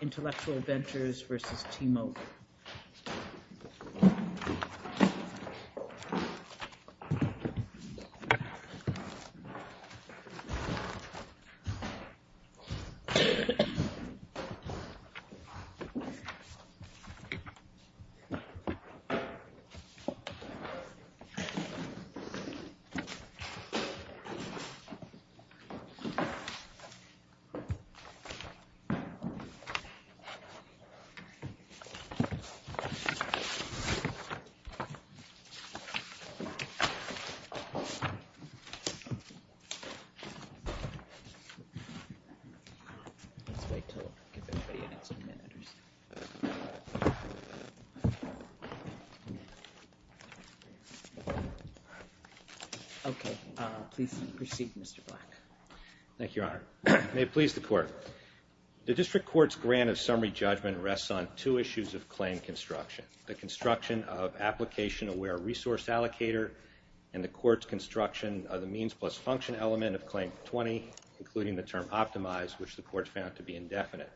Intellectual Ventures v. T-Mobile. Okay. Please proceed, Mr. Black. Thank you, Your Honor. May it please the Court. The District Court's grant of summary judgment rests on two issues of claim construction. The construction of application-aware resource allocator and the Court's construction of the means plus function element of Claim 20, including the term optimized, which the Court found to be indefinite.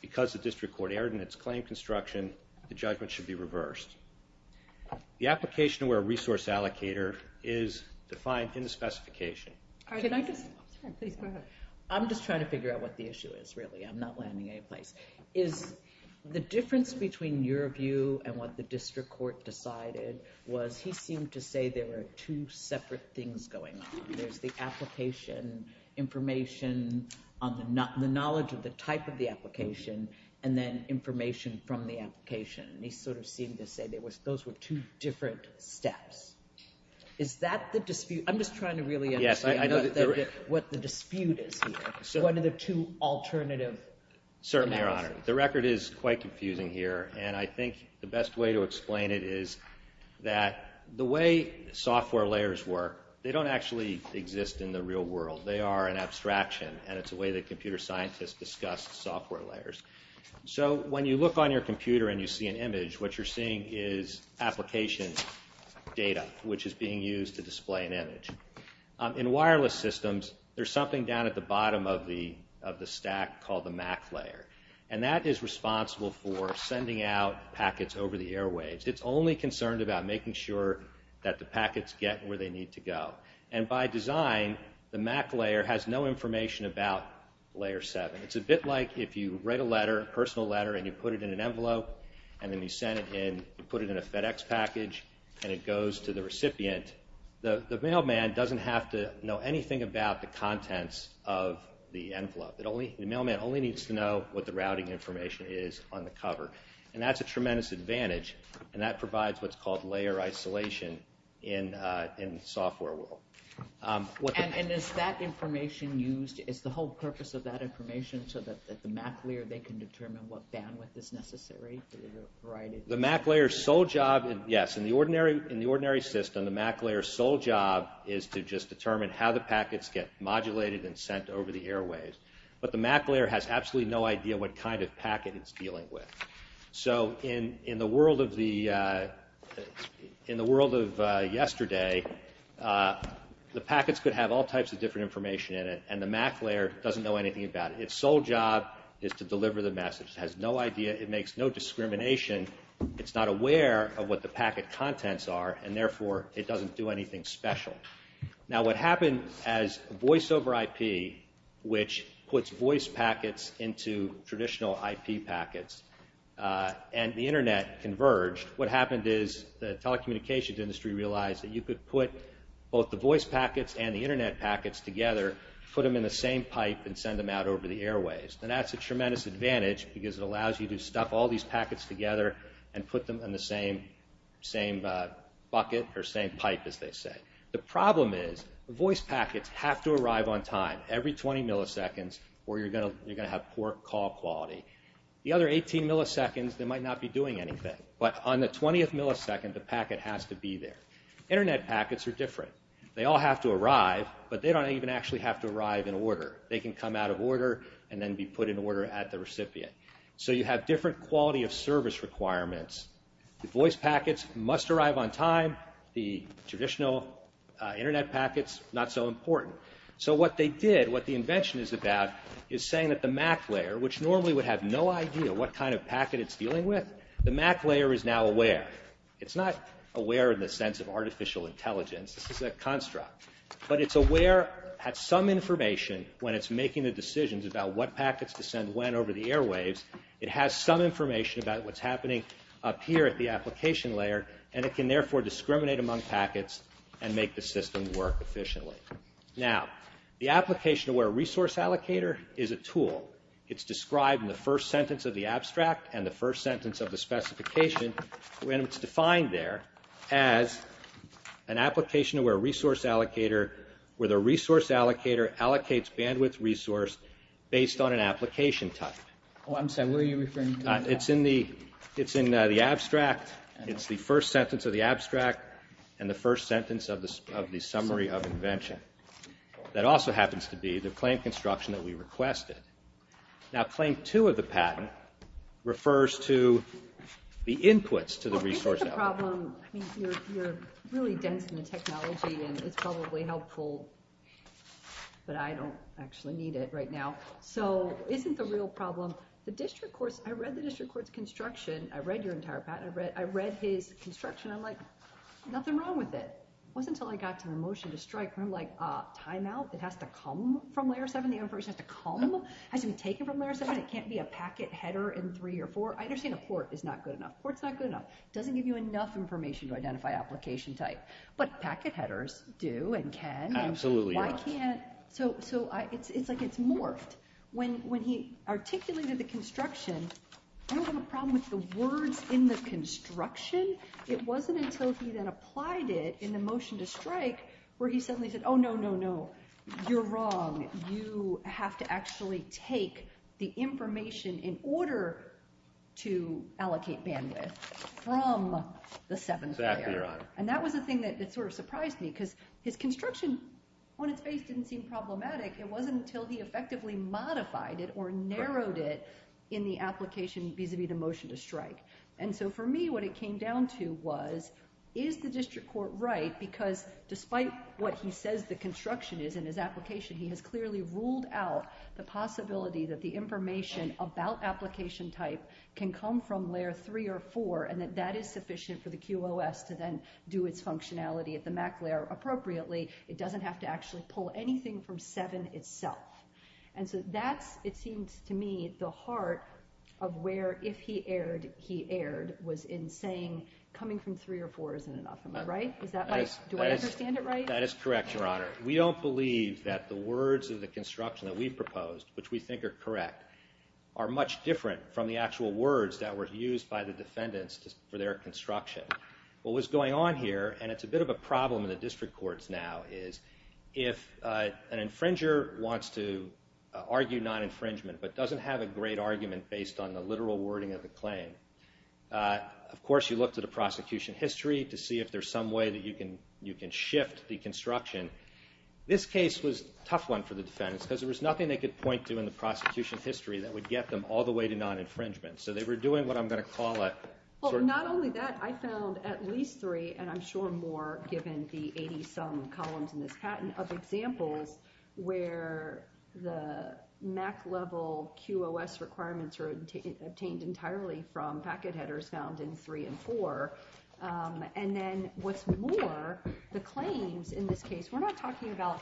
Because the District Court erred in its claim construction, the judgment should be reversed. The application-aware resource allocator is defined in the specification. I'm just trying to figure out what the issue is, really. I'm not landing anyplace. Is the difference between your view and what the District Court decided was he seemed to say there were two separate things going on. There's the application, information on the knowledge of the type of the application, and then information from the application. And he sort of seemed to say those were two different steps. Is that the dispute? I'm just trying to really understand what the dispute is here. What are the two alternative scenarios? Certainly, Your Honor. The record is quite confusing here, and I think the best way to explain it is that the way software layers work, they don't actually exist in the real world. They are an abstraction, and it's a way that computer scientists discuss software layers. So when you look on your computer and you see an image, what you're seeing is application data, which is being used to display an image. In wireless systems, there's something down at the bottom of the stack called the MAC layer, and that is responsible for sending out packets over the airwaves. It's only concerned about making sure that the packets get where they need to go. And by design, the MAC layer has no information about Layer 7. It's a bit like if you write a letter, a personal letter, and you put it in an envelope, and then you send it in, you put it in a FedEx package, and it goes to the recipient, the mailman doesn't have to know anything about the contents of the envelope. The mailman only needs to know what the routing information is on the cover. And that's a tremendous advantage, and that provides what's called layer isolation in the software world. And is that information used, is the whole purpose of that information so that the MAC layer, they can determine what bandwidth is necessary for the variety of... The MAC layer's sole job, yes, in the ordinary system, the MAC layer's sole job is to just determine how the packets get modulated and sent over the airwaves. But the MAC layer has absolutely no idea what kind of packet it's dealing with. So in the world of yesterday, the packets could have all types of different information in it, and the MAC layer doesn't know anything about it. Its sole job is to make sure that it makes no discrimination. It's not aware of what the packet contents are, and therefore it doesn't do anything special. Now what happened as voice over IP, which puts voice packets into traditional IP packets, and the Internet converged, what happened is the telecommunications industry realized that you could put both the voice packets and the Internet packets together, put them in the same pipe, and send them out over the airwaves. And that's a tremendous advantage because it allows you to stuff all these packets together and put them in the same bucket or same pipe, as they say. The problem is, voice packets have to arrive on time, every 20 milliseconds, or you're going to have poor call quality. The other 18 milliseconds, they might not be doing anything. But on the 20th millisecond, the packet has to be there. Internet packets are different. They all have to arrive, but they don't even actually have to arrive in order. They can come out of order and then be put in order at the recipient. So you have different quality of service requirements. The voice packets must arrive on time. The traditional Internet packets, not so important. So what they did, what the invention is about, is saying that the MAC layer, which normally would have no idea what kind of packet it's dealing with, the MAC layer is now aware. It's not aware in the sense of artificial intelligence. This is a construct. But it's aware at some information when it's making the decisions about what packets to send when over the airwaves. It has some information about what's happening up here at the application layer, and it can therefore discriminate among packets and make the system work efficiently. Now, the Application-Aware Resource Allocator is a tool. It's described in the first sentence of the abstract and the first sentence of the specification, and it's defined there as an Application-Aware Resource Allocator, where the resource allocator allocates bandwidth resource based on an application type. Oh, I'm sorry. What are you referring to? It's in the abstract. It's the first sentence of the abstract and the first sentence of the summary of invention. That also happens to be the claim construction that we requested. Now claim two of the patent refers to the inputs to the resource allocator. I mean, you're really dense in the technology, and it's probably helpful, but I don't actually need it right now. So isn't the real problem, the district courts, I read the district court's construction. I read your entire patent. I read his construction. I'm like, nothing wrong with it. It wasn't until I got to the motion to strike where I'm like, timeout? It has to come from Layer 7? The information has to come? It has to be taken from Layer 7? It can't be a packet header in three or four? I understand a port is not good enough. Port's not good enough. It doesn't give you enough information to identify application type, but packet headers do and can. Absolutely. So it's like it's morphed. When he articulated the construction, I don't have a problem with the words in the construction. It wasn't until he then applied it in the motion to strike where he suddenly said, oh, no, no, no, you're wrong. You have to actually take the information in order to allocate bandwidth from the 7th Layer. And that was the thing that sort of surprised me because his construction on its face didn't seem problematic. It wasn't until he effectively modified it or narrowed it in the application vis-a-vis the motion to strike. And so for me, what it came down to was, is the district court right? Because despite what he says the construction is in his application, he has clearly ruled out the possibility that the information about application type can come from Layer 3 or 4 and that that is sufficient for the QOS to then do its functionality at the MAC Layer appropriately. It doesn't have to actually pull anything from 7 itself. And so that's, it seems to me, the heart of where, if he erred, he erred, was in saying coming from 3 or 4 isn't enough. Am I right? Do I understand it right? That is correct, Your Honor. We don't believe that the words of the construction that we proposed, which we think are correct, are much different from the actual words that were used by the defendants for their construction. What was going on here, and it's a bit of a problem in the district courts now, is if an infringer wants to argue non-infringement but doesn't have a great argument based on the literal wording of the claim, of course you look to the prosecution history to see if there's some way that you can shift the prosecution history that would get them all the way to non-infringement. So they were doing what I'm going to call a... Well, not only that, I found at least three, and I'm sure more given the 80-some columns in this patent, of examples where the MAC level QOS requirements are obtained entirely from packet headers found in 3 and 4. And then what's more, the claims in this case, we're not talking about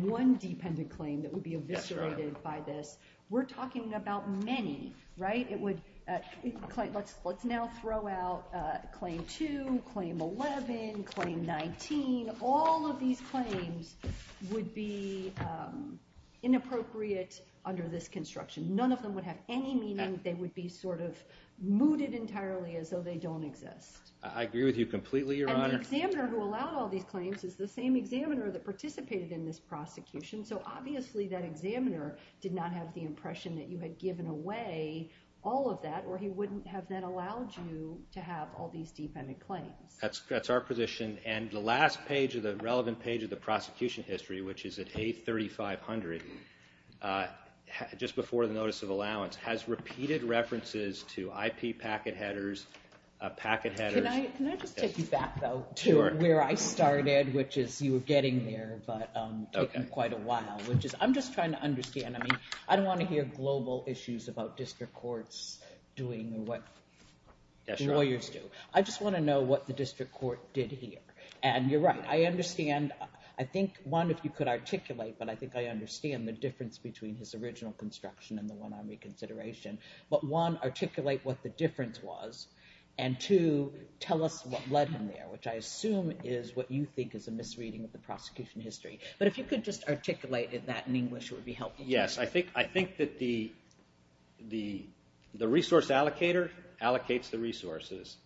one dependent claim that would be eviscerated by this. We're talking about many, right? Let's now throw out Claim 2, Claim 11, Claim 19. All of these claims would be inappropriate under this construction. None of them would have any meaning. They would be sort of mooted entirely as though they don't exist. I agree with you completely, Your Honor. And the examiner who allowed all these claims is the same examiner that participated in this prosecution. So obviously that examiner did not have the impression that you had given away all of that, or he wouldn't have then allowed you to have all these dependent claims. That's our position. And the last page of the relevant page of the prosecution history, which is at A3500, just before the notice of allowance, has repeated references to IP packet headers, packet headers... Can I just take you back, though, to where I started, which is you were getting there, but taken quite a while, which is I'm just trying to understand. I mean, I don't want to hear global issues about district courts doing what lawyers do. I just want to know what the district court did here. And you're right. I understand. I think, one, if you could articulate, but I think I understand the difference between his original construction and the one on reconsideration. But one, articulate what the difference was. And two, tell us what led him there, which I assume is what you think is a misreading of the prosecution history. But if you could just articulate that in English, it would be helpful. Yes. I think that the resource allocator allocates the resources.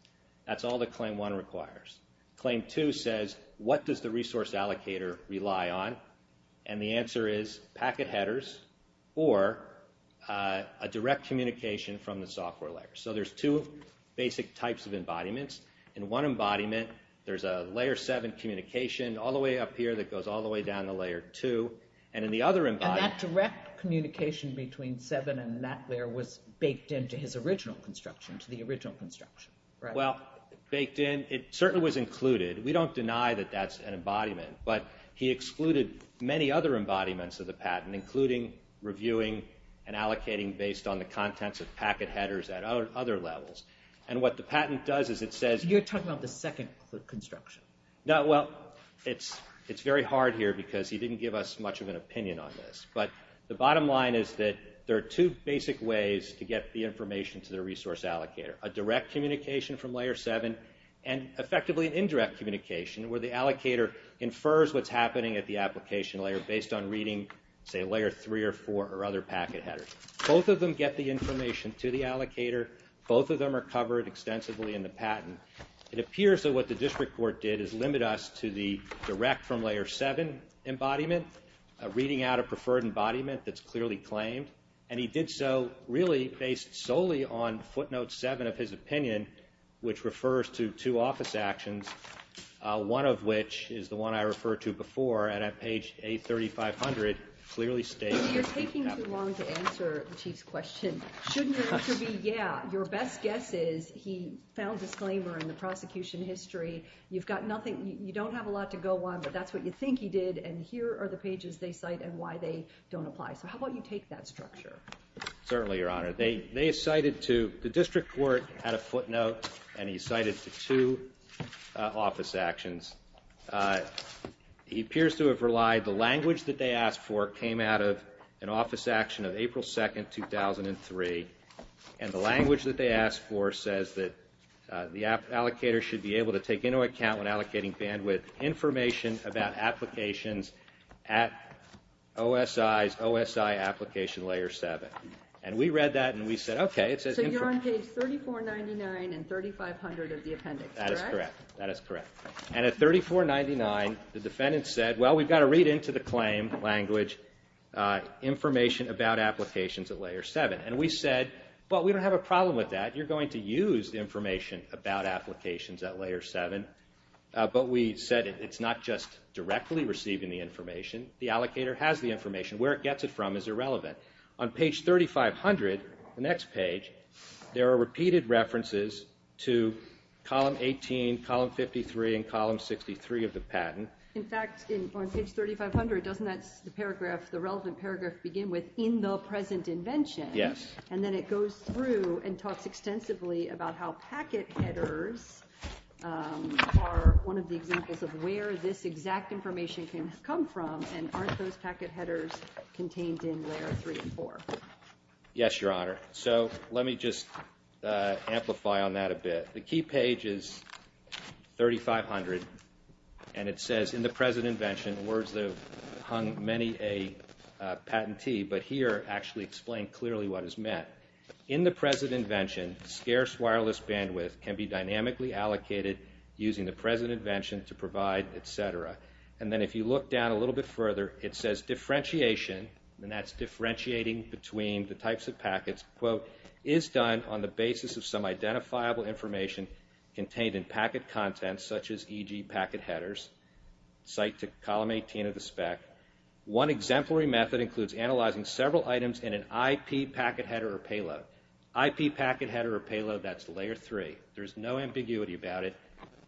That's all that Claim 1 requires. Claim 2 says, what does the resource allocator rely on? And the answer is packet headers or a direct communication from the software layer. So there's two basic types of embodiments. In one embodiment, there's a layer 7 communication all the way up here that goes all the way down to layer 2. And in the other embodiment And that direct communication between 7 and that layer was baked into his original construction, to the original construction, right? Well, baked in. It certainly was included. We don't deny that that's an embodiment. But he excluded many other embodiments of the patent, including reviewing and allocating based on the contents of packet headers at other levels. And what the patent does is it says... You're talking about the second construction. No, well, it's very hard here because he didn't give us much of an opinion on this. But the bottom line is that there are two basic ways to get the information to the resource allocator. A direct communication from layer 7 and effectively an indirect communication where the allocator infers what's happening at the application layer based on reading, say, layer 3 or 4 or other packet headers. Both of them get the information to the allocator. Both of them are covered extensively in the patent. It appears that what the district court did is limit us to the direct from layer 7 embodiment, reading out a preferred embodiment that's clearly claimed. And he did so really based solely on footnote 7 of his opinion, which is the one I referred to before. And at page A3500, it clearly states... You're taking too long to answer the Chief's question. Shouldn't it be, yeah, your best guess is he found disclaimer in the prosecution history. You don't have a lot to go on, but that's what you think he did. And here are the pages they cite and why they don't apply. So how about you take that structure? Certainly, Your Honor. The district court had a footnote, and he cited it to two office actions. He appears to have relied... The language that they asked for came out of an office action of April 2nd, 2003. And the language that they asked for says that the allocator should be able to take into account when allocating bandwidth information about applications at OSI's OSI application layer 7. And we read that and we said, okay. So you're on page 3499 and 3500 of the appendix, correct? That is correct. And at 3499, the defendant said, well, we've got to read into the claim language information about applications at layer 7. And we said, well, we don't have a problem with that. You're going to use the information about applications at layer 7. But we said it's not just directly receiving the information. The allocator has the information. Where it gets it from is relevant. On page 3500, the next page, there are repeated references to column 18, column 53, and column 63 of the patent. In fact, on page 3500, doesn't that paragraph, the relevant paragraph begin with, in the present invention? Yes. And then it goes through and talks extensively about how packet headers are one of the examples of where this exact information can come from. And aren't those packet headers contained in layer 3 and 4? Yes, Your Honor. So let me just amplify on that a bit. The key page is 3500. And it says, in the present invention, words that have hung many a patentee, but here actually explain clearly what is meant. In the present invention, scarce wireless bandwidth can be dynamically allocated using the present invention to provide, et cetera. And then if you look down a little bit further, it says differentiation, and that's differentiating between the types of packets, quote, is done on the basis of some identifiable information contained in packet content, such as, e.g., packet headers, cite to column 18 of the spec. One exemplary method includes analyzing several items in an IP packet header or payload. IP packet header or payload, that's layer 3. There's no ambiguity about it.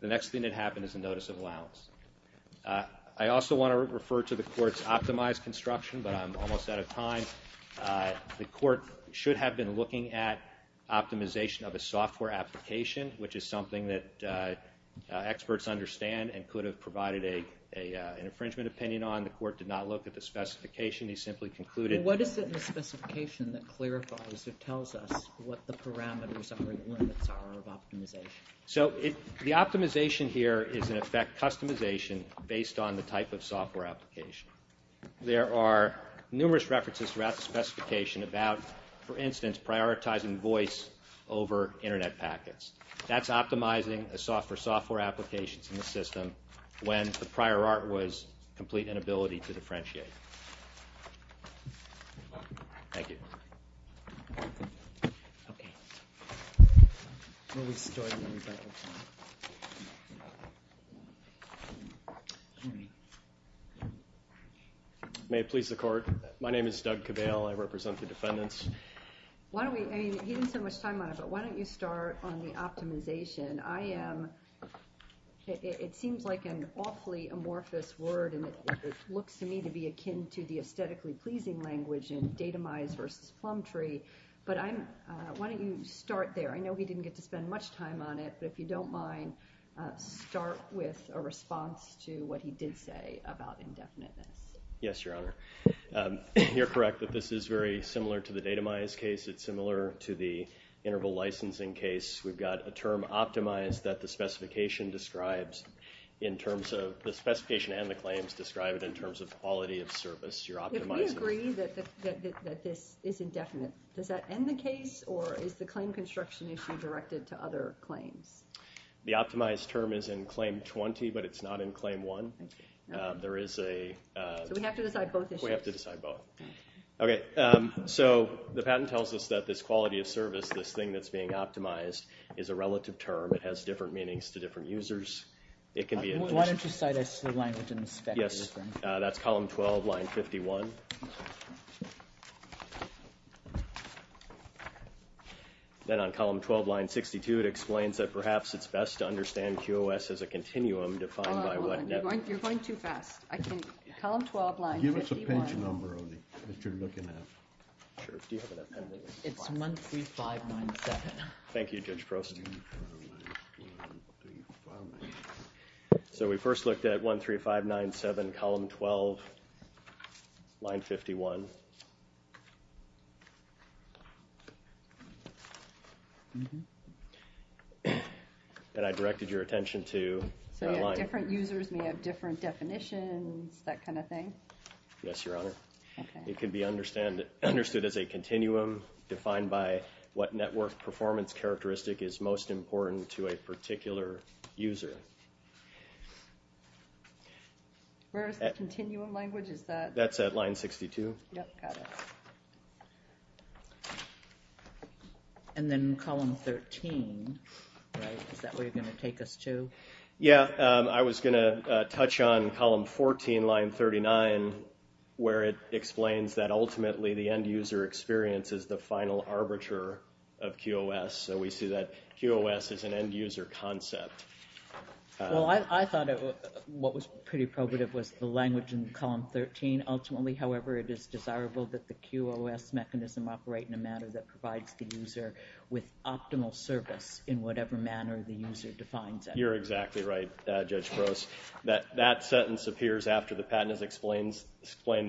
The next thing that happened is a notice of allowance. I also want to refer to the Court's optimized construction, but I'm almost out of time. The Court should have been looking at optimization of a software application, which is something that experts understand and could have provided an infringement opinion on. The Court did not look at the specification. They simply concluded— So the optimization here is, in effect, customization based on the type of software application. There are numerous references throughout the specification about, for instance, prioritizing voice over Internet packets. That's optimizing a software for software applications in the system when the prior art was complete inability to differentiate. Thank you. May it please the Court? My name is Doug Cabale. I represent the defendants. Why don't we—I mean, he didn't spend much time on it, but why don't you start on the akin to the aesthetically pleasing language in datamized versus plumb tree, but why don't you start there? I know he didn't get to spend much time on it, but if you don't mind, start with a response to what he did say about indefiniteness. Yes, Your Honor. You're correct that this is very similar to the datamized case. It's similar to the interval licensing case. We've got a term optimized that the specification describes in terms of—the specification and the claims describe it in terms of quality of service. If we agree that this is indefinite, does that end the case, or is the claim construction issue directed to other claims? The optimized term is in claim 20, but it's not in claim 1. There is a—so we have to decide both issues? We have to decide both. Okay, so the patent tells us that this quality of service, this thing that's being optimized, is a relative term. It has different meanings to different users. It can Yes, that's column 12, line 51. Then on column 12, line 62, it explains that perhaps it's best to understand QOS as a continuum defined by what— You're going too fast. I can—column 12, line 51. Give us a page number that you're looking at. It's 13597. Thank you, Judge Prost. So we first looked at 13597, column 12, line 51. And I directed your attention to— So different users may have different definitions, that kind of thing? Yes, Your Honor. It can be understood as a continuum defined by what network performance characteristic is most important to a particular user. Where is the continuum language? Is that— That's at line 62. Yep, got it. And then column 13, right? Is that where you're going to take us to? Yeah, I was going to touch on column 14, line 39, where it explains that ultimately the end-user experience is the final arbiter of QOS. So we see that QOS is an end-user concept. Well, I thought what was pretty probative was the language in column 13. Ultimately, however, it is desirable that the QOS mechanism operate in a manner that provides the user with optimal service in whatever manner the user defines it. You're exactly right, Judge Prost. That sentence appears after the patent has explained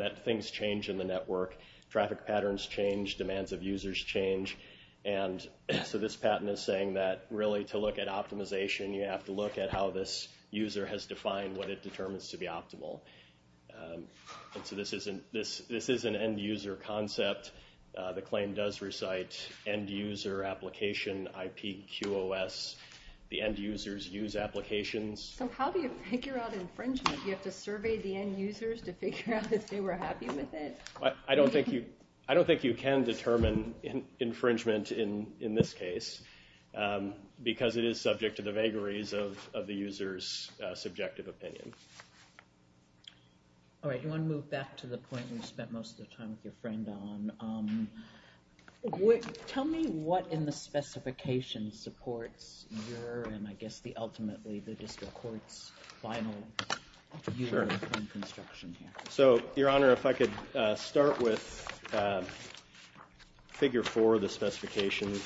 that things change in the network. Traffic patterns change, demands of users change. And so this patent is saying that really to look at optimization, you have to look at how this user has defined what it determines to be optimal. And so this isn't—this is an end-user concept. The claim does recite end-user application IP QOS. The end-users use applications. So how do you figure out infringement? You have to survey the end-users to figure out if they were happy with it? I don't think you can determine infringement in this case, because it is subject to the vagaries of the user's subjective opinion. All right, you want to move back to the point you spent most of the time with your friend on. Tell me what in the specification supports your—and I guess ultimately the district court's final view on construction here. Sure. So, Your Honor, if I could start with figure 4 of the specification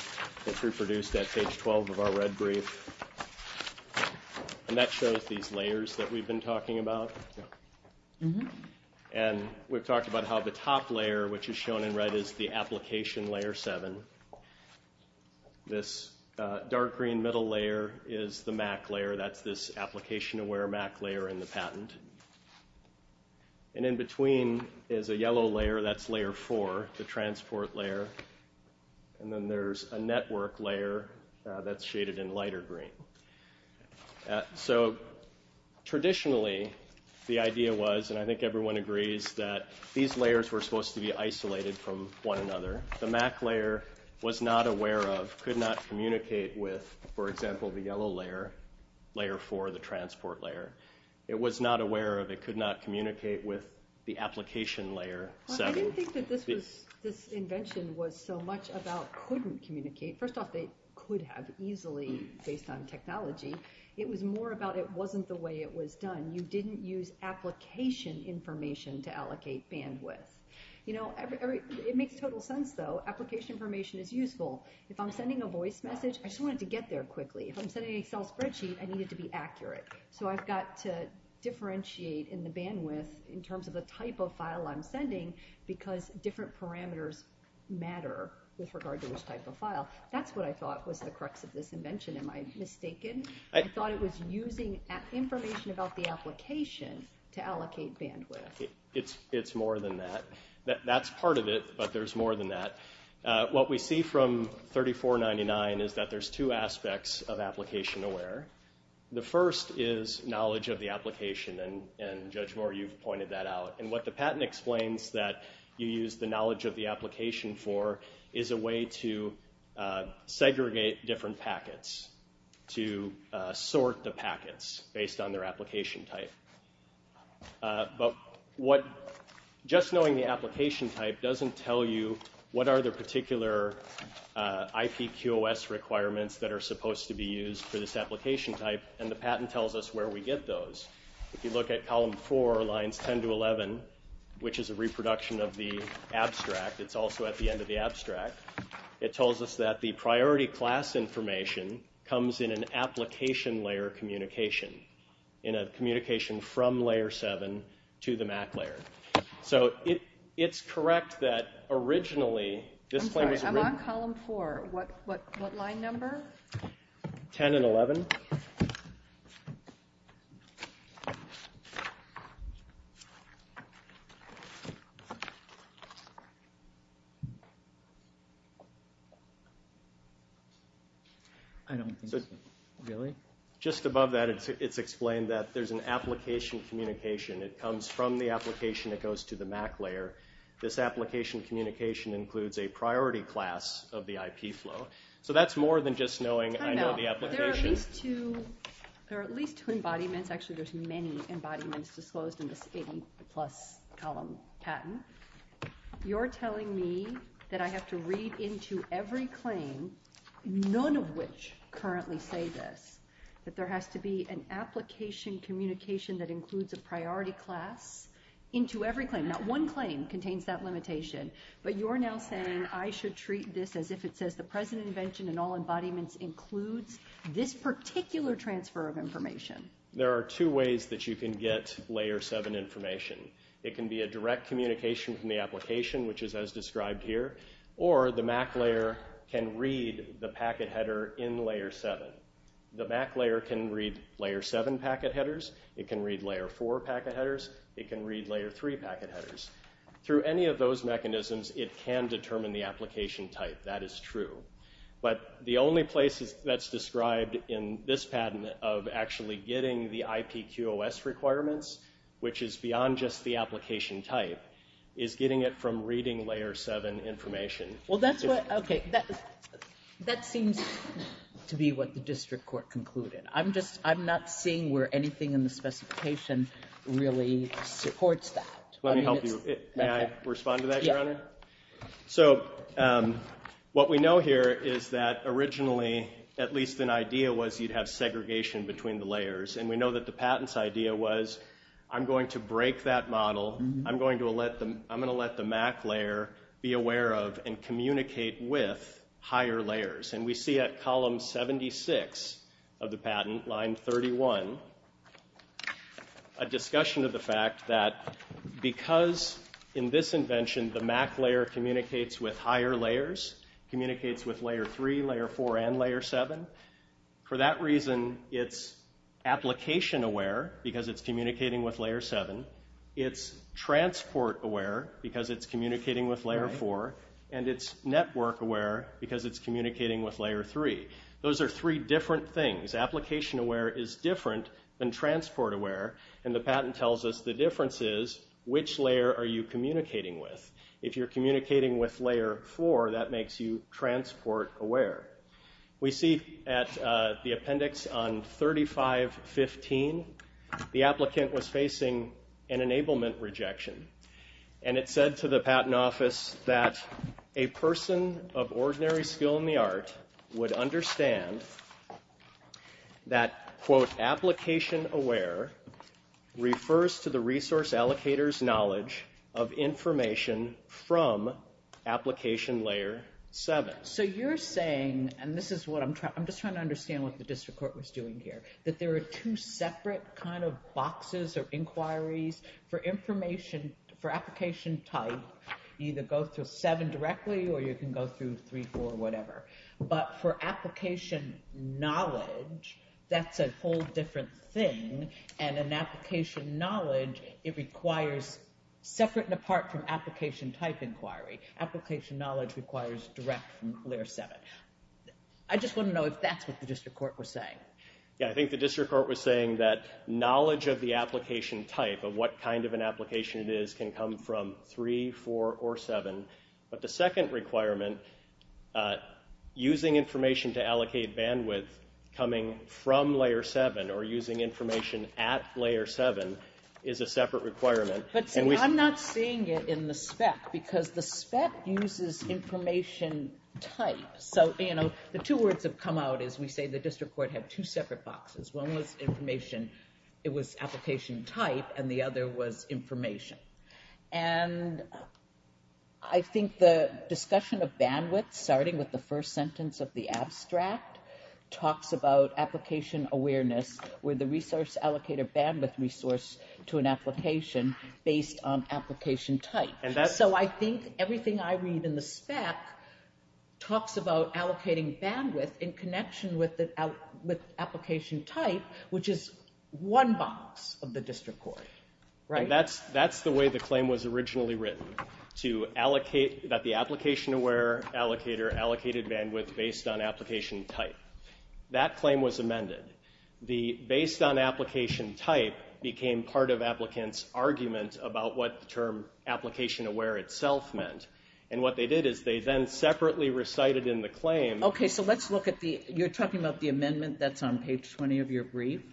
that's reproduced at page 12 of our red brief. And that shows these layers that we've been talking about. And we've talked about how the top layer, which is shown in red, is the application layer 7. This dark green middle layer is the MAC layer. That's this application-aware MAC layer in the patent. And in between is a yellow layer. That's layer 4, the transport layer. And then there's a network layer that's shaded in lighter green. So traditionally, the idea was—and I think everyone agrees—that these layers were supposed to be isolated from one another. The MAC layer was not aware of, could not communicate with, for example, the yellow layer, layer 4, the transport layer. It was not aware of, it could not communicate with the application layer 7. Well, I didn't think that this was—this invention was so much about couldn't communicate. First off, they could have easily based on technology. It was more about it wasn't the way it was done. You didn't use application information to allocate bandwidth. You know, it makes total sense, though. Application information is useful. If I'm sending a voice message, I just wanted to get there quickly. If I'm sending an Excel spreadsheet, I need it to be accurate. So I've got to differentiate in the bandwidth in terms of the type of file I'm sending because different parameters matter with regard to which type of file. That's what I thought was the crux of this invention. Am I mistaken? I thought it was using information about the application to allocate bandwidth. It's more than that. That's part of it, but there's more than that. What we see from 3499 is that there's two aspects of application aware. The first is knowledge of the application, and Judge Moore, you've pointed that out. And what the patent explains that you way to segregate different packets, to sort the packets based on their application type. Just knowing the application type doesn't tell you what are the particular IPQOS requirements that are supposed to be used for this application type, and the patent tells us where we get those. If you look at column four, lines 10 to 11, which is a reproduction of the abstract, it's also at the end of the abstract, it tells us that the priority class information comes in an application layer communication, in a communication from layer seven to the MAC layer. So it's correct that originally this claim was written... I'm sorry, I'm on column four. What line number? 10 and 11. I don't think so. Really? Just above that, it's explained that there's an application communication. It comes from the application that goes to the MAC layer. This application communication includes a priority class of the IP flow. So that's more than just knowing I know the application. There are at least two embodiments, actually there's many embodiments disclosed in this 80 plus column patent. You're telling me that I have to read into every claim, none of which currently say this, that there has to be an application communication that includes a priority class into every claim. Not one claim contains that limitation, but you're now saying I should treat this as if it says the present invention and all embodiments includes this particular transfer of information. There are two ways that you can get layer seven information. It can be a direct communication from the application, which is as described here, or the MAC layer can read the packet header in layer seven. The MAC layer can read layer seven packet headers. It can read layer four packet headers. It can read layer three packet headers. Through any of those mechanisms, it can determine the application type. That is true. But the only places that's described in this patent of actually getting the IPQOS requirements, which is beyond just the application type, is getting it from reading layer seven information. Well, that's what, okay, that seems to be what the district court concluded. I'm just, I'm not seeing where anything in the specification really supports that. Let me help you. May I respond to that, Your Honor? So what we know here is that originally at least an idea was you'd have segregation between the layers. And we know that the patent's idea was I'm going to break that model. I'm going to let the MAC layer be aware of and communicate with higher layers. And we see at column 76 of the patent, line 31, a discussion of the fact that because in this invention the MAC layer communicates with higher three, layer four, and layer seven. For that reason, it's application aware because it's communicating with layer seven. It's transport aware because it's communicating with layer four. And it's network aware because it's communicating with layer three. Those are three different things. Application aware is different than transport aware. And the patent tells us the difference is which layer are you communicating with? If you're communicating with layer four, that makes you transport aware. We see at the appendix on 3515, the applicant was facing an enablement rejection. And it said to the patent office that a person of ordinary skill in the art would understand that, quote, application aware refers to the resource allocator's knowledge of information from application layer seven. So you're saying, and this is what I'm trying, I'm just trying to understand what the district court was doing here, that there are two separate kind of boxes or inquiries for information, for application type, either go through seven directly or you can go through three, four, whatever. But for application knowledge, that's a whole different thing. And an application knowledge, it requires separate and apart from application type inquiry. Application knowledge requires direct from layer seven. I just want to know if that's what the district court was saying. Yeah, I think the district court was saying that knowledge of the application type of what kind of an application it is can come from three, four, or seven. But the second requirement, using information to allocate bandwidth coming from layer seven or using information at layer seven is a separate requirement. But see, I'm not seeing it in the spec because the spec uses information type. So, you know, the two words have come out is we say the district court had two separate boxes. One was information, it was application type, and the other was information. And I think the discussion of bandwidth starting with the first sentence of the abstract talks about application awareness where the resource allocator bandwidth resource to an application based on application type. So I think everything I read in the spec talks about allocating bandwidth in connection with application type, which is one box of the district court, right? That's the way the claim was originally written, that the application aware allocator allocated bandwidth based on application type. That claim was amended. The based on application type became part of applicant's argument about what the term application aware itself meant. And what they did is they then separately recited in the claim. Okay, so let's look at the, you're talking about the amendment that's on page 20 of your brief.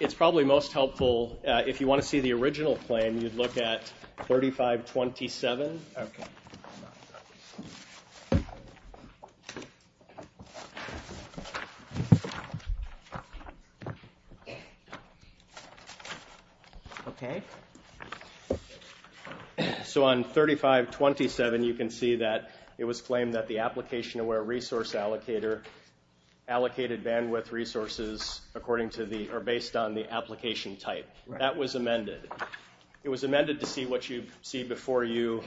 It's probably most helpful if you want to see the original claim, you'd look at 3527. Okay. Okay. So on 3527, you can see that it was claimed that the application aware resource allocator allocated bandwidth resources according to the, or based on the application type. That was amended. It was amended to see what you see before you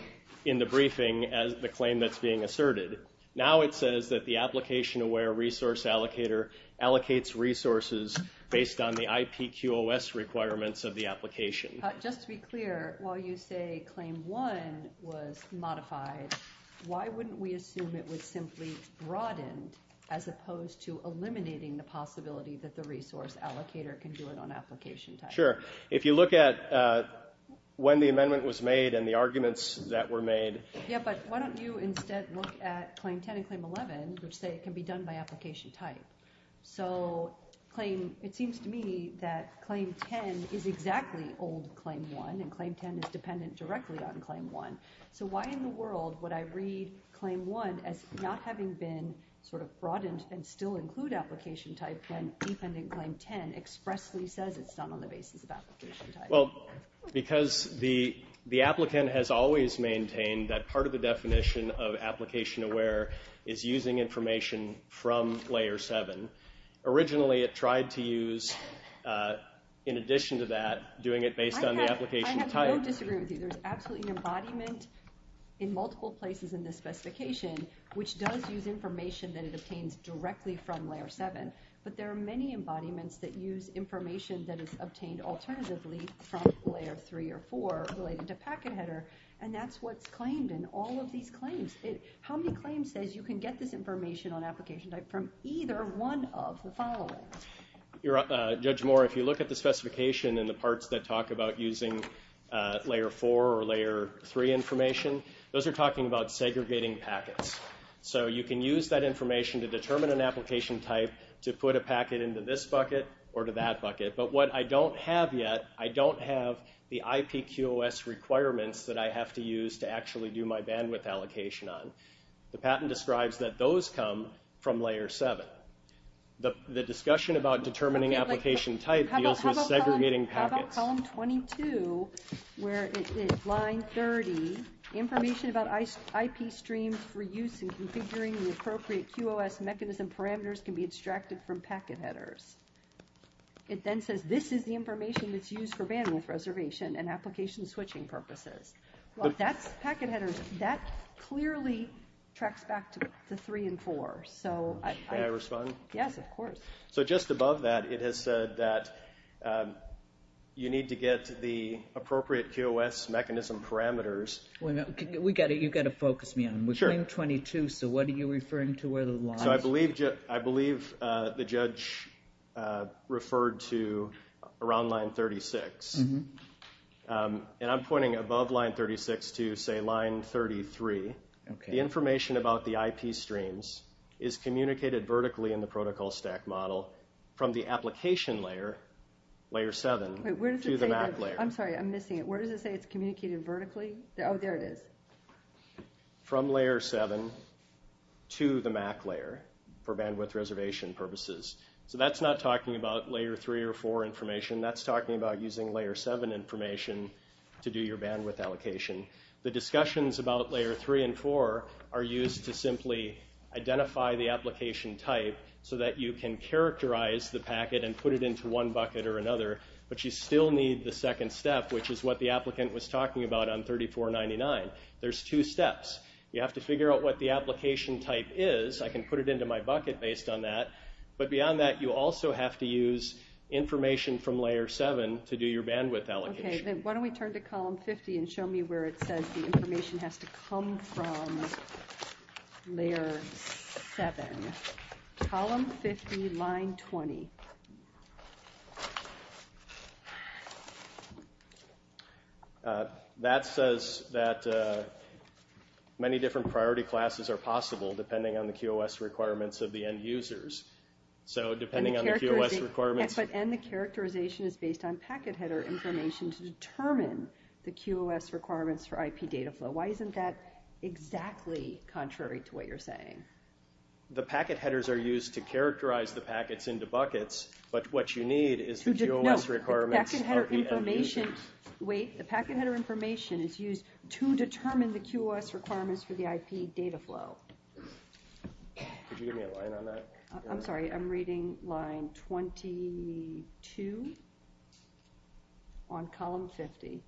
in the briefing as the claim that's being asserted. Now it says that the application aware resource allocator allocates resources based on the IPQOS requirements of the application. Just to be clear, while you say claim one was modified, why wouldn't we assume it was simply broadened as opposed to eliminating the possibility that the resource allocator can do it on application type? Sure. If you look at when the amendment was made and the arguments that were made. Yeah, but why don't you instead look at claim 10 and claim 11, which say it can be done by application type. So claim, it seems to me that claim 10 is exactly old claim one and claim 10 is dependent directly on claim one. So why in the world would I read claim one as not having been sort of broadened and still include application type when dependent claim 10 expressly says it's not on the basis of application type? Well, because the applicant has always maintained that part of the definition of application aware is using information from layer seven. Originally it tried to use, in addition to that, doing it based on the application type. I have no disagreement with you. There's absolutely embodiment in multiple places in this specification, which does use information that it obtains directly from layer seven. But there are many embodiments that use information that is obtained alternatively from layer three or four related to packet header. And that's what's claimed in all of these claims. How many claims says you can get this information on application type from either one of the following? Judge Moore, if you look at the specification and the parts that talk about using layer four or layer three information, those are talking about segregating packets. So you can use that information to determine an application type to put a packet into this bucket or to that bucket. But what I don't have yet, I don't have the IPQOS requirements that I have to use to actually do my bandwidth allocation on. The patent describes that those come from layer seven. The discussion about determining application type deals with segregating packets. How about column 22, where it is line 30, information about IP streams for use in configuring the appropriate QOS mechanism parameters can be extracted from packet headers. It then says this is the information that's used for bandwidth reservation and application switching purposes. Packet headers, that clearly tracks back to the three and four. Can I respond? Yes, of course. So just above that, it has said that you need to get the appropriate QOS mechanism parameters. You've got to focus me on them. We're claim 22, so what are you referring to where the line is? I believe the judge referred to around line 36. And I'm pointing above line 36 to say line 33. The information about the IP streams is communicated vertically in the protocol stack model from the application layer, layer seven, to the MAC layer. I'm sorry, I'm missing it. Where does it say it's for bandwidth reservation purposes? So that's not talking about layer three or four information, that's talking about using layer seven information to do your bandwidth allocation. The discussions about layer three and four are used to simply identify the application type so that you can characterize the packet and put it into one bucket or another, but you still need the second step, which is what the applicant was talking about on 3499. There's two steps. You have to figure out what the application type is. I can put it into my bucket based on that, but beyond that, you also have to use information from layer seven to do your bandwidth allocation. Okay, then why don't we turn to column 50 and show me where it says the information has to come from layer seven. Column 50, line 20. Okay. That says that many different priority classes are possible depending on the QoS requirements of the end users. So depending on the QoS requirements... And the characterization is based on packet header information to determine the QoS requirements for IP data flow. Why isn't that exactly contrary to what you're saying? The packet headers are used to characterize the packets into buckets, but what you need is the QoS requirements... No, the packet header information... Wait. The packet header information is used to determine the QoS requirements for the IP data flow. Could you give me a line on that? I'm sorry. I'm reading line 22 on column 50.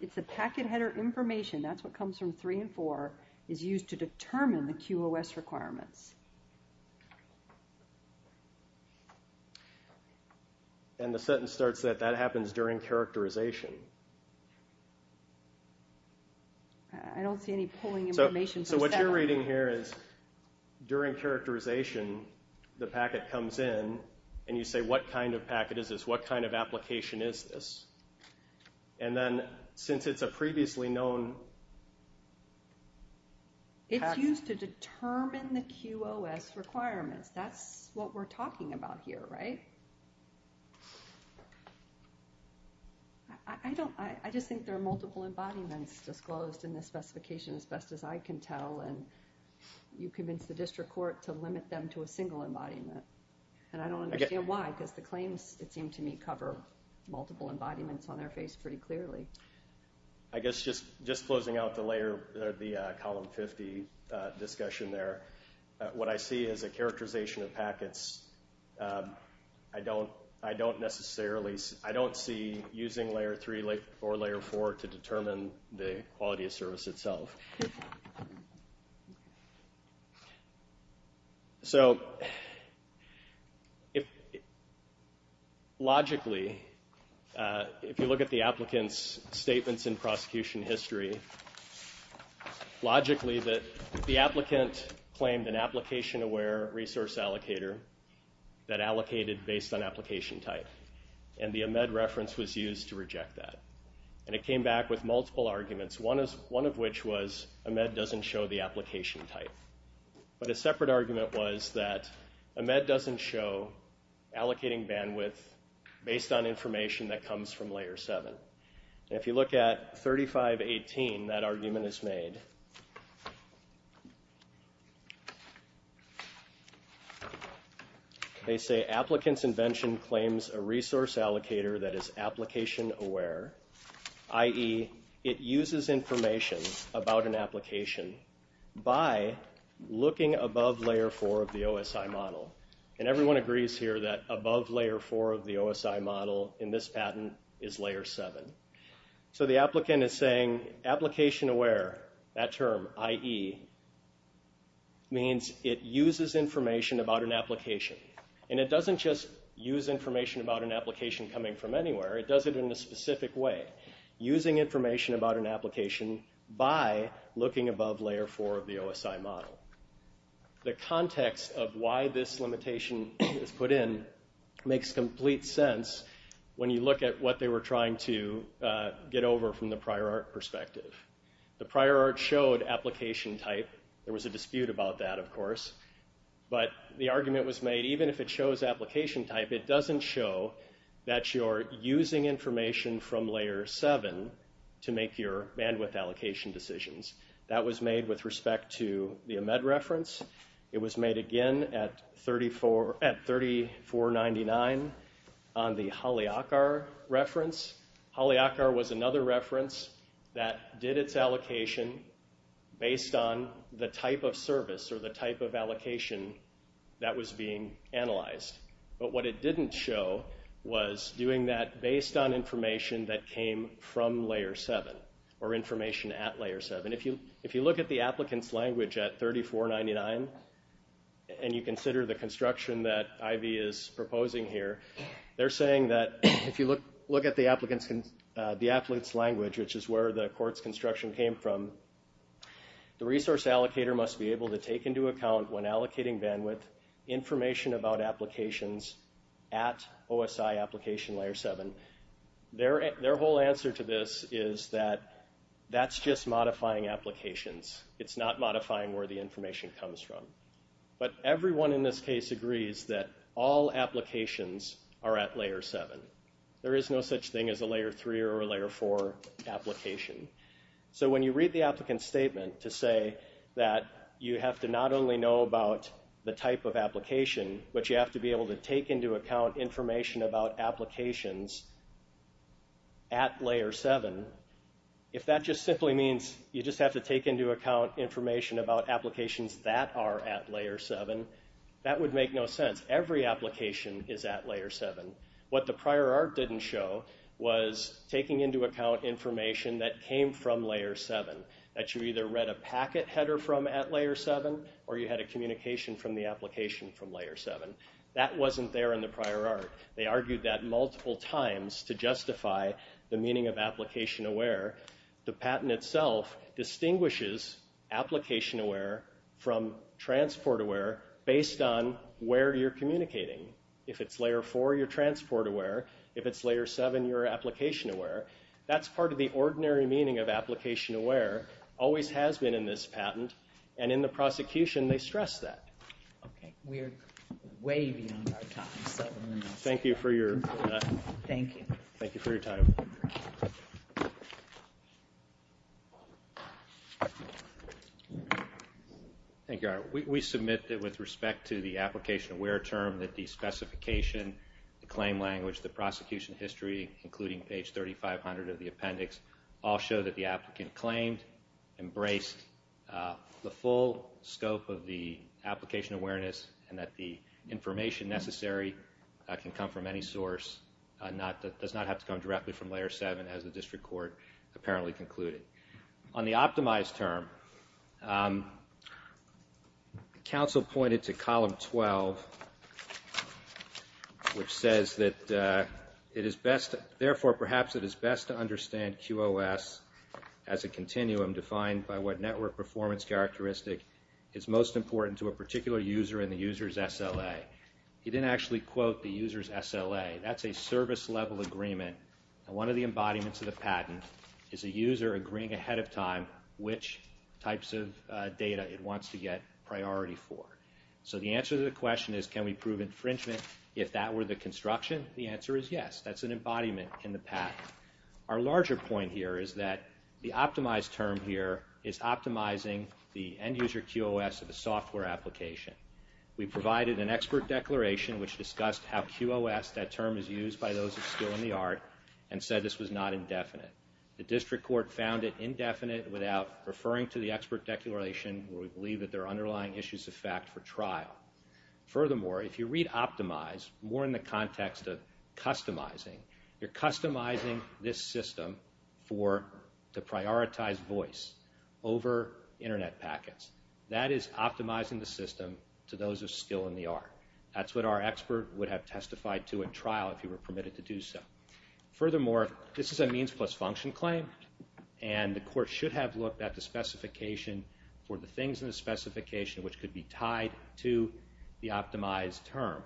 It's the packet header information, that's what comes from three and four, is used to determine the QoS requirements. And the sentence starts that that happens during characterization. I don't see any pulling information... So what you're reading here is during characterization, the packet comes in and you say, what kind of packet is this? What kind of application is this? And then since it's a previously known... It's used to determine the QoS requirements. That's what we're talking about here, right? I just think there are multiple embodiments disclosed in this specification, as best as I can tell, and you convince the district court to limit them to a single embodiment. And I don't understand why, because the claims, it seemed to me, cover multiple embodiments on their face pretty clearly. I guess just closing out the column 50 discussion there, what I see is a characterization of packets. I don't necessarily... I don't see using layer three or layer four to determine the quality of service itself. So, logically, if you look at the applicant's statements in prosecution history, logically, that the applicant claimed an application-aware resource allocator that allocated based on application type, and the AMEDD reference was used to reject that. And it came back with multiple arguments, one of which was AMEDD doesn't show the application type. But a separate argument was that AMEDD doesn't show allocating bandwidth based on information that comes from layer seven. And if you look at 3518, that argument is made. They say, applicant's invention claims a resource allocator that is application-aware, i.e., it uses information about an application by looking above layer four of the OSI model. And everyone agrees here that above layer four of the OSI model in this patent is layer seven. So, the applicant is saying, application-aware, that term, i.e., means it uses information about an application. And it doesn't just use information about an application coming from anywhere. It does it in a specific way, using information about an application by looking above layer four of the OSI model. The context of why this limitation is put in makes complete sense when you look at what they were trying to get over from the prior art perspective. The prior art showed application type. There was a dispute about that, of course. But the argument was made, even if it shows application type, it doesn't show that you're using information from layer seven to make your bandwidth allocation decisions. That was made with respect to the AMEDD reference. It was made again at 3499 on the HALIAKAR reference. HALIAKAR was another reference that did its allocation based on the type of service or the type of allocation that was being analyzed. But what it didn't show was doing that based on information that came from layer seven, or information at layer seven. If you look at the applicant's language at 3499, and you consider the construction that IV is proposing here, they're saying that if you look at the applicant's language, which is where the court's construction came from, the resource allocator must be able to take into account when allocating bandwidth information about applications at OSI application layer seven. Their whole answer to this is that that's just modifying applications. It's not modifying where the information comes from. But everyone in this case agrees that all applications are at layer seven. There is no such thing as a layer three or a layer four application. So when you read the applicant's statement to say that you have not only know about the type of application, but you have to be able to take into account information about applications at layer seven, if that just simply means you just have to take into account information about applications that are at layer seven, that would make no sense. Every application is at layer seven. What the prior art didn't show was taking into account information that came from layer seven, that you either read a packet header from at layer seven, or you had a communication from the application from layer seven. That wasn't there in the prior art. They argued that multiple times to justify the meaning of application aware. The patent itself distinguishes application aware from transport aware based on where you're communicating. If it's layer four, you're transport aware. If it's layer seven, you're application aware. That's part of the ordinary meaning of application aware, always has been in this patent, and in the prosecution they stress that. Okay, we're way beyond our time. Thank you for your time. Thank you. We submit that with respect to the application aware term that the specification, the claim language, the prosecution history, including page 3500 of the appendix, all show that the applicant claimed, embraced the full scope of the application awareness, and that the information necessary can come from any source. That does not have to come directly from layer seven as the district court apparently concluded. On the optimized term, counsel pointed to column 12, which says that it is best, therefore perhaps it is best to understand QOS as a continuum defined by what network performance characteristic is most important to a particular user in the user's SLA. He didn't actually quote the user's SLA. That's a service level agreement, and one of the embodiments of the patent is a user agreeing ahead of time which types of data it wants to get priority for. So the answer to the question is can we prove infringement if that were the construction? The answer is yes. That's an embodiment in the patent. Our larger point here is that the optimized term is optimizing the end user QOS of a software application. We provided an expert declaration which discussed how QOS, that term is used by those of skill in the art, and said this was not indefinite. The district court found it indefinite without referring to the expert declaration where we believe that there are underlying issues of fact for trial. Furthermore, if you read optimize more in the context of customizing, you're customizing this system for the prioritized voice over internet packets. That is optimizing the system to those of skill in the art. That's what our expert would have testified to at trial if you were permitted to do so. Furthermore, this is a means plus function claim, and the court should have looked at the specification for the things in the specification which could be tied to the optimized term,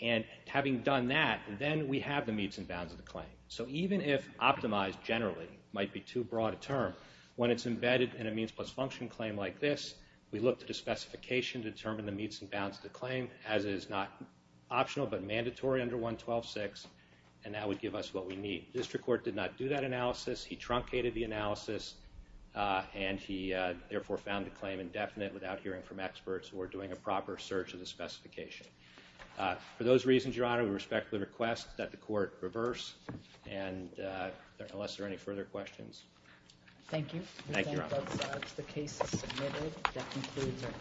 and having done that, then we have the meets and bounds of the claim. So even if optimized generally might be too broad a term, when it's embedded in a means plus function claim like this, we looked at a specification to determine the meets and bounds of the claim as is not optional but mandatory under 112.6, and that would give us what we need. The district court did not do that analysis. He truncated the analysis, and he therefore found the claim indefinite without hearing from experts or doing a proper search of the specification. For those reasons, Your Honor, we respectfully request that the court reverse, and unless there are any further questions. Thank you. Thank you, Your Honor. The case is submitted. That concludes our proceedings for this morning.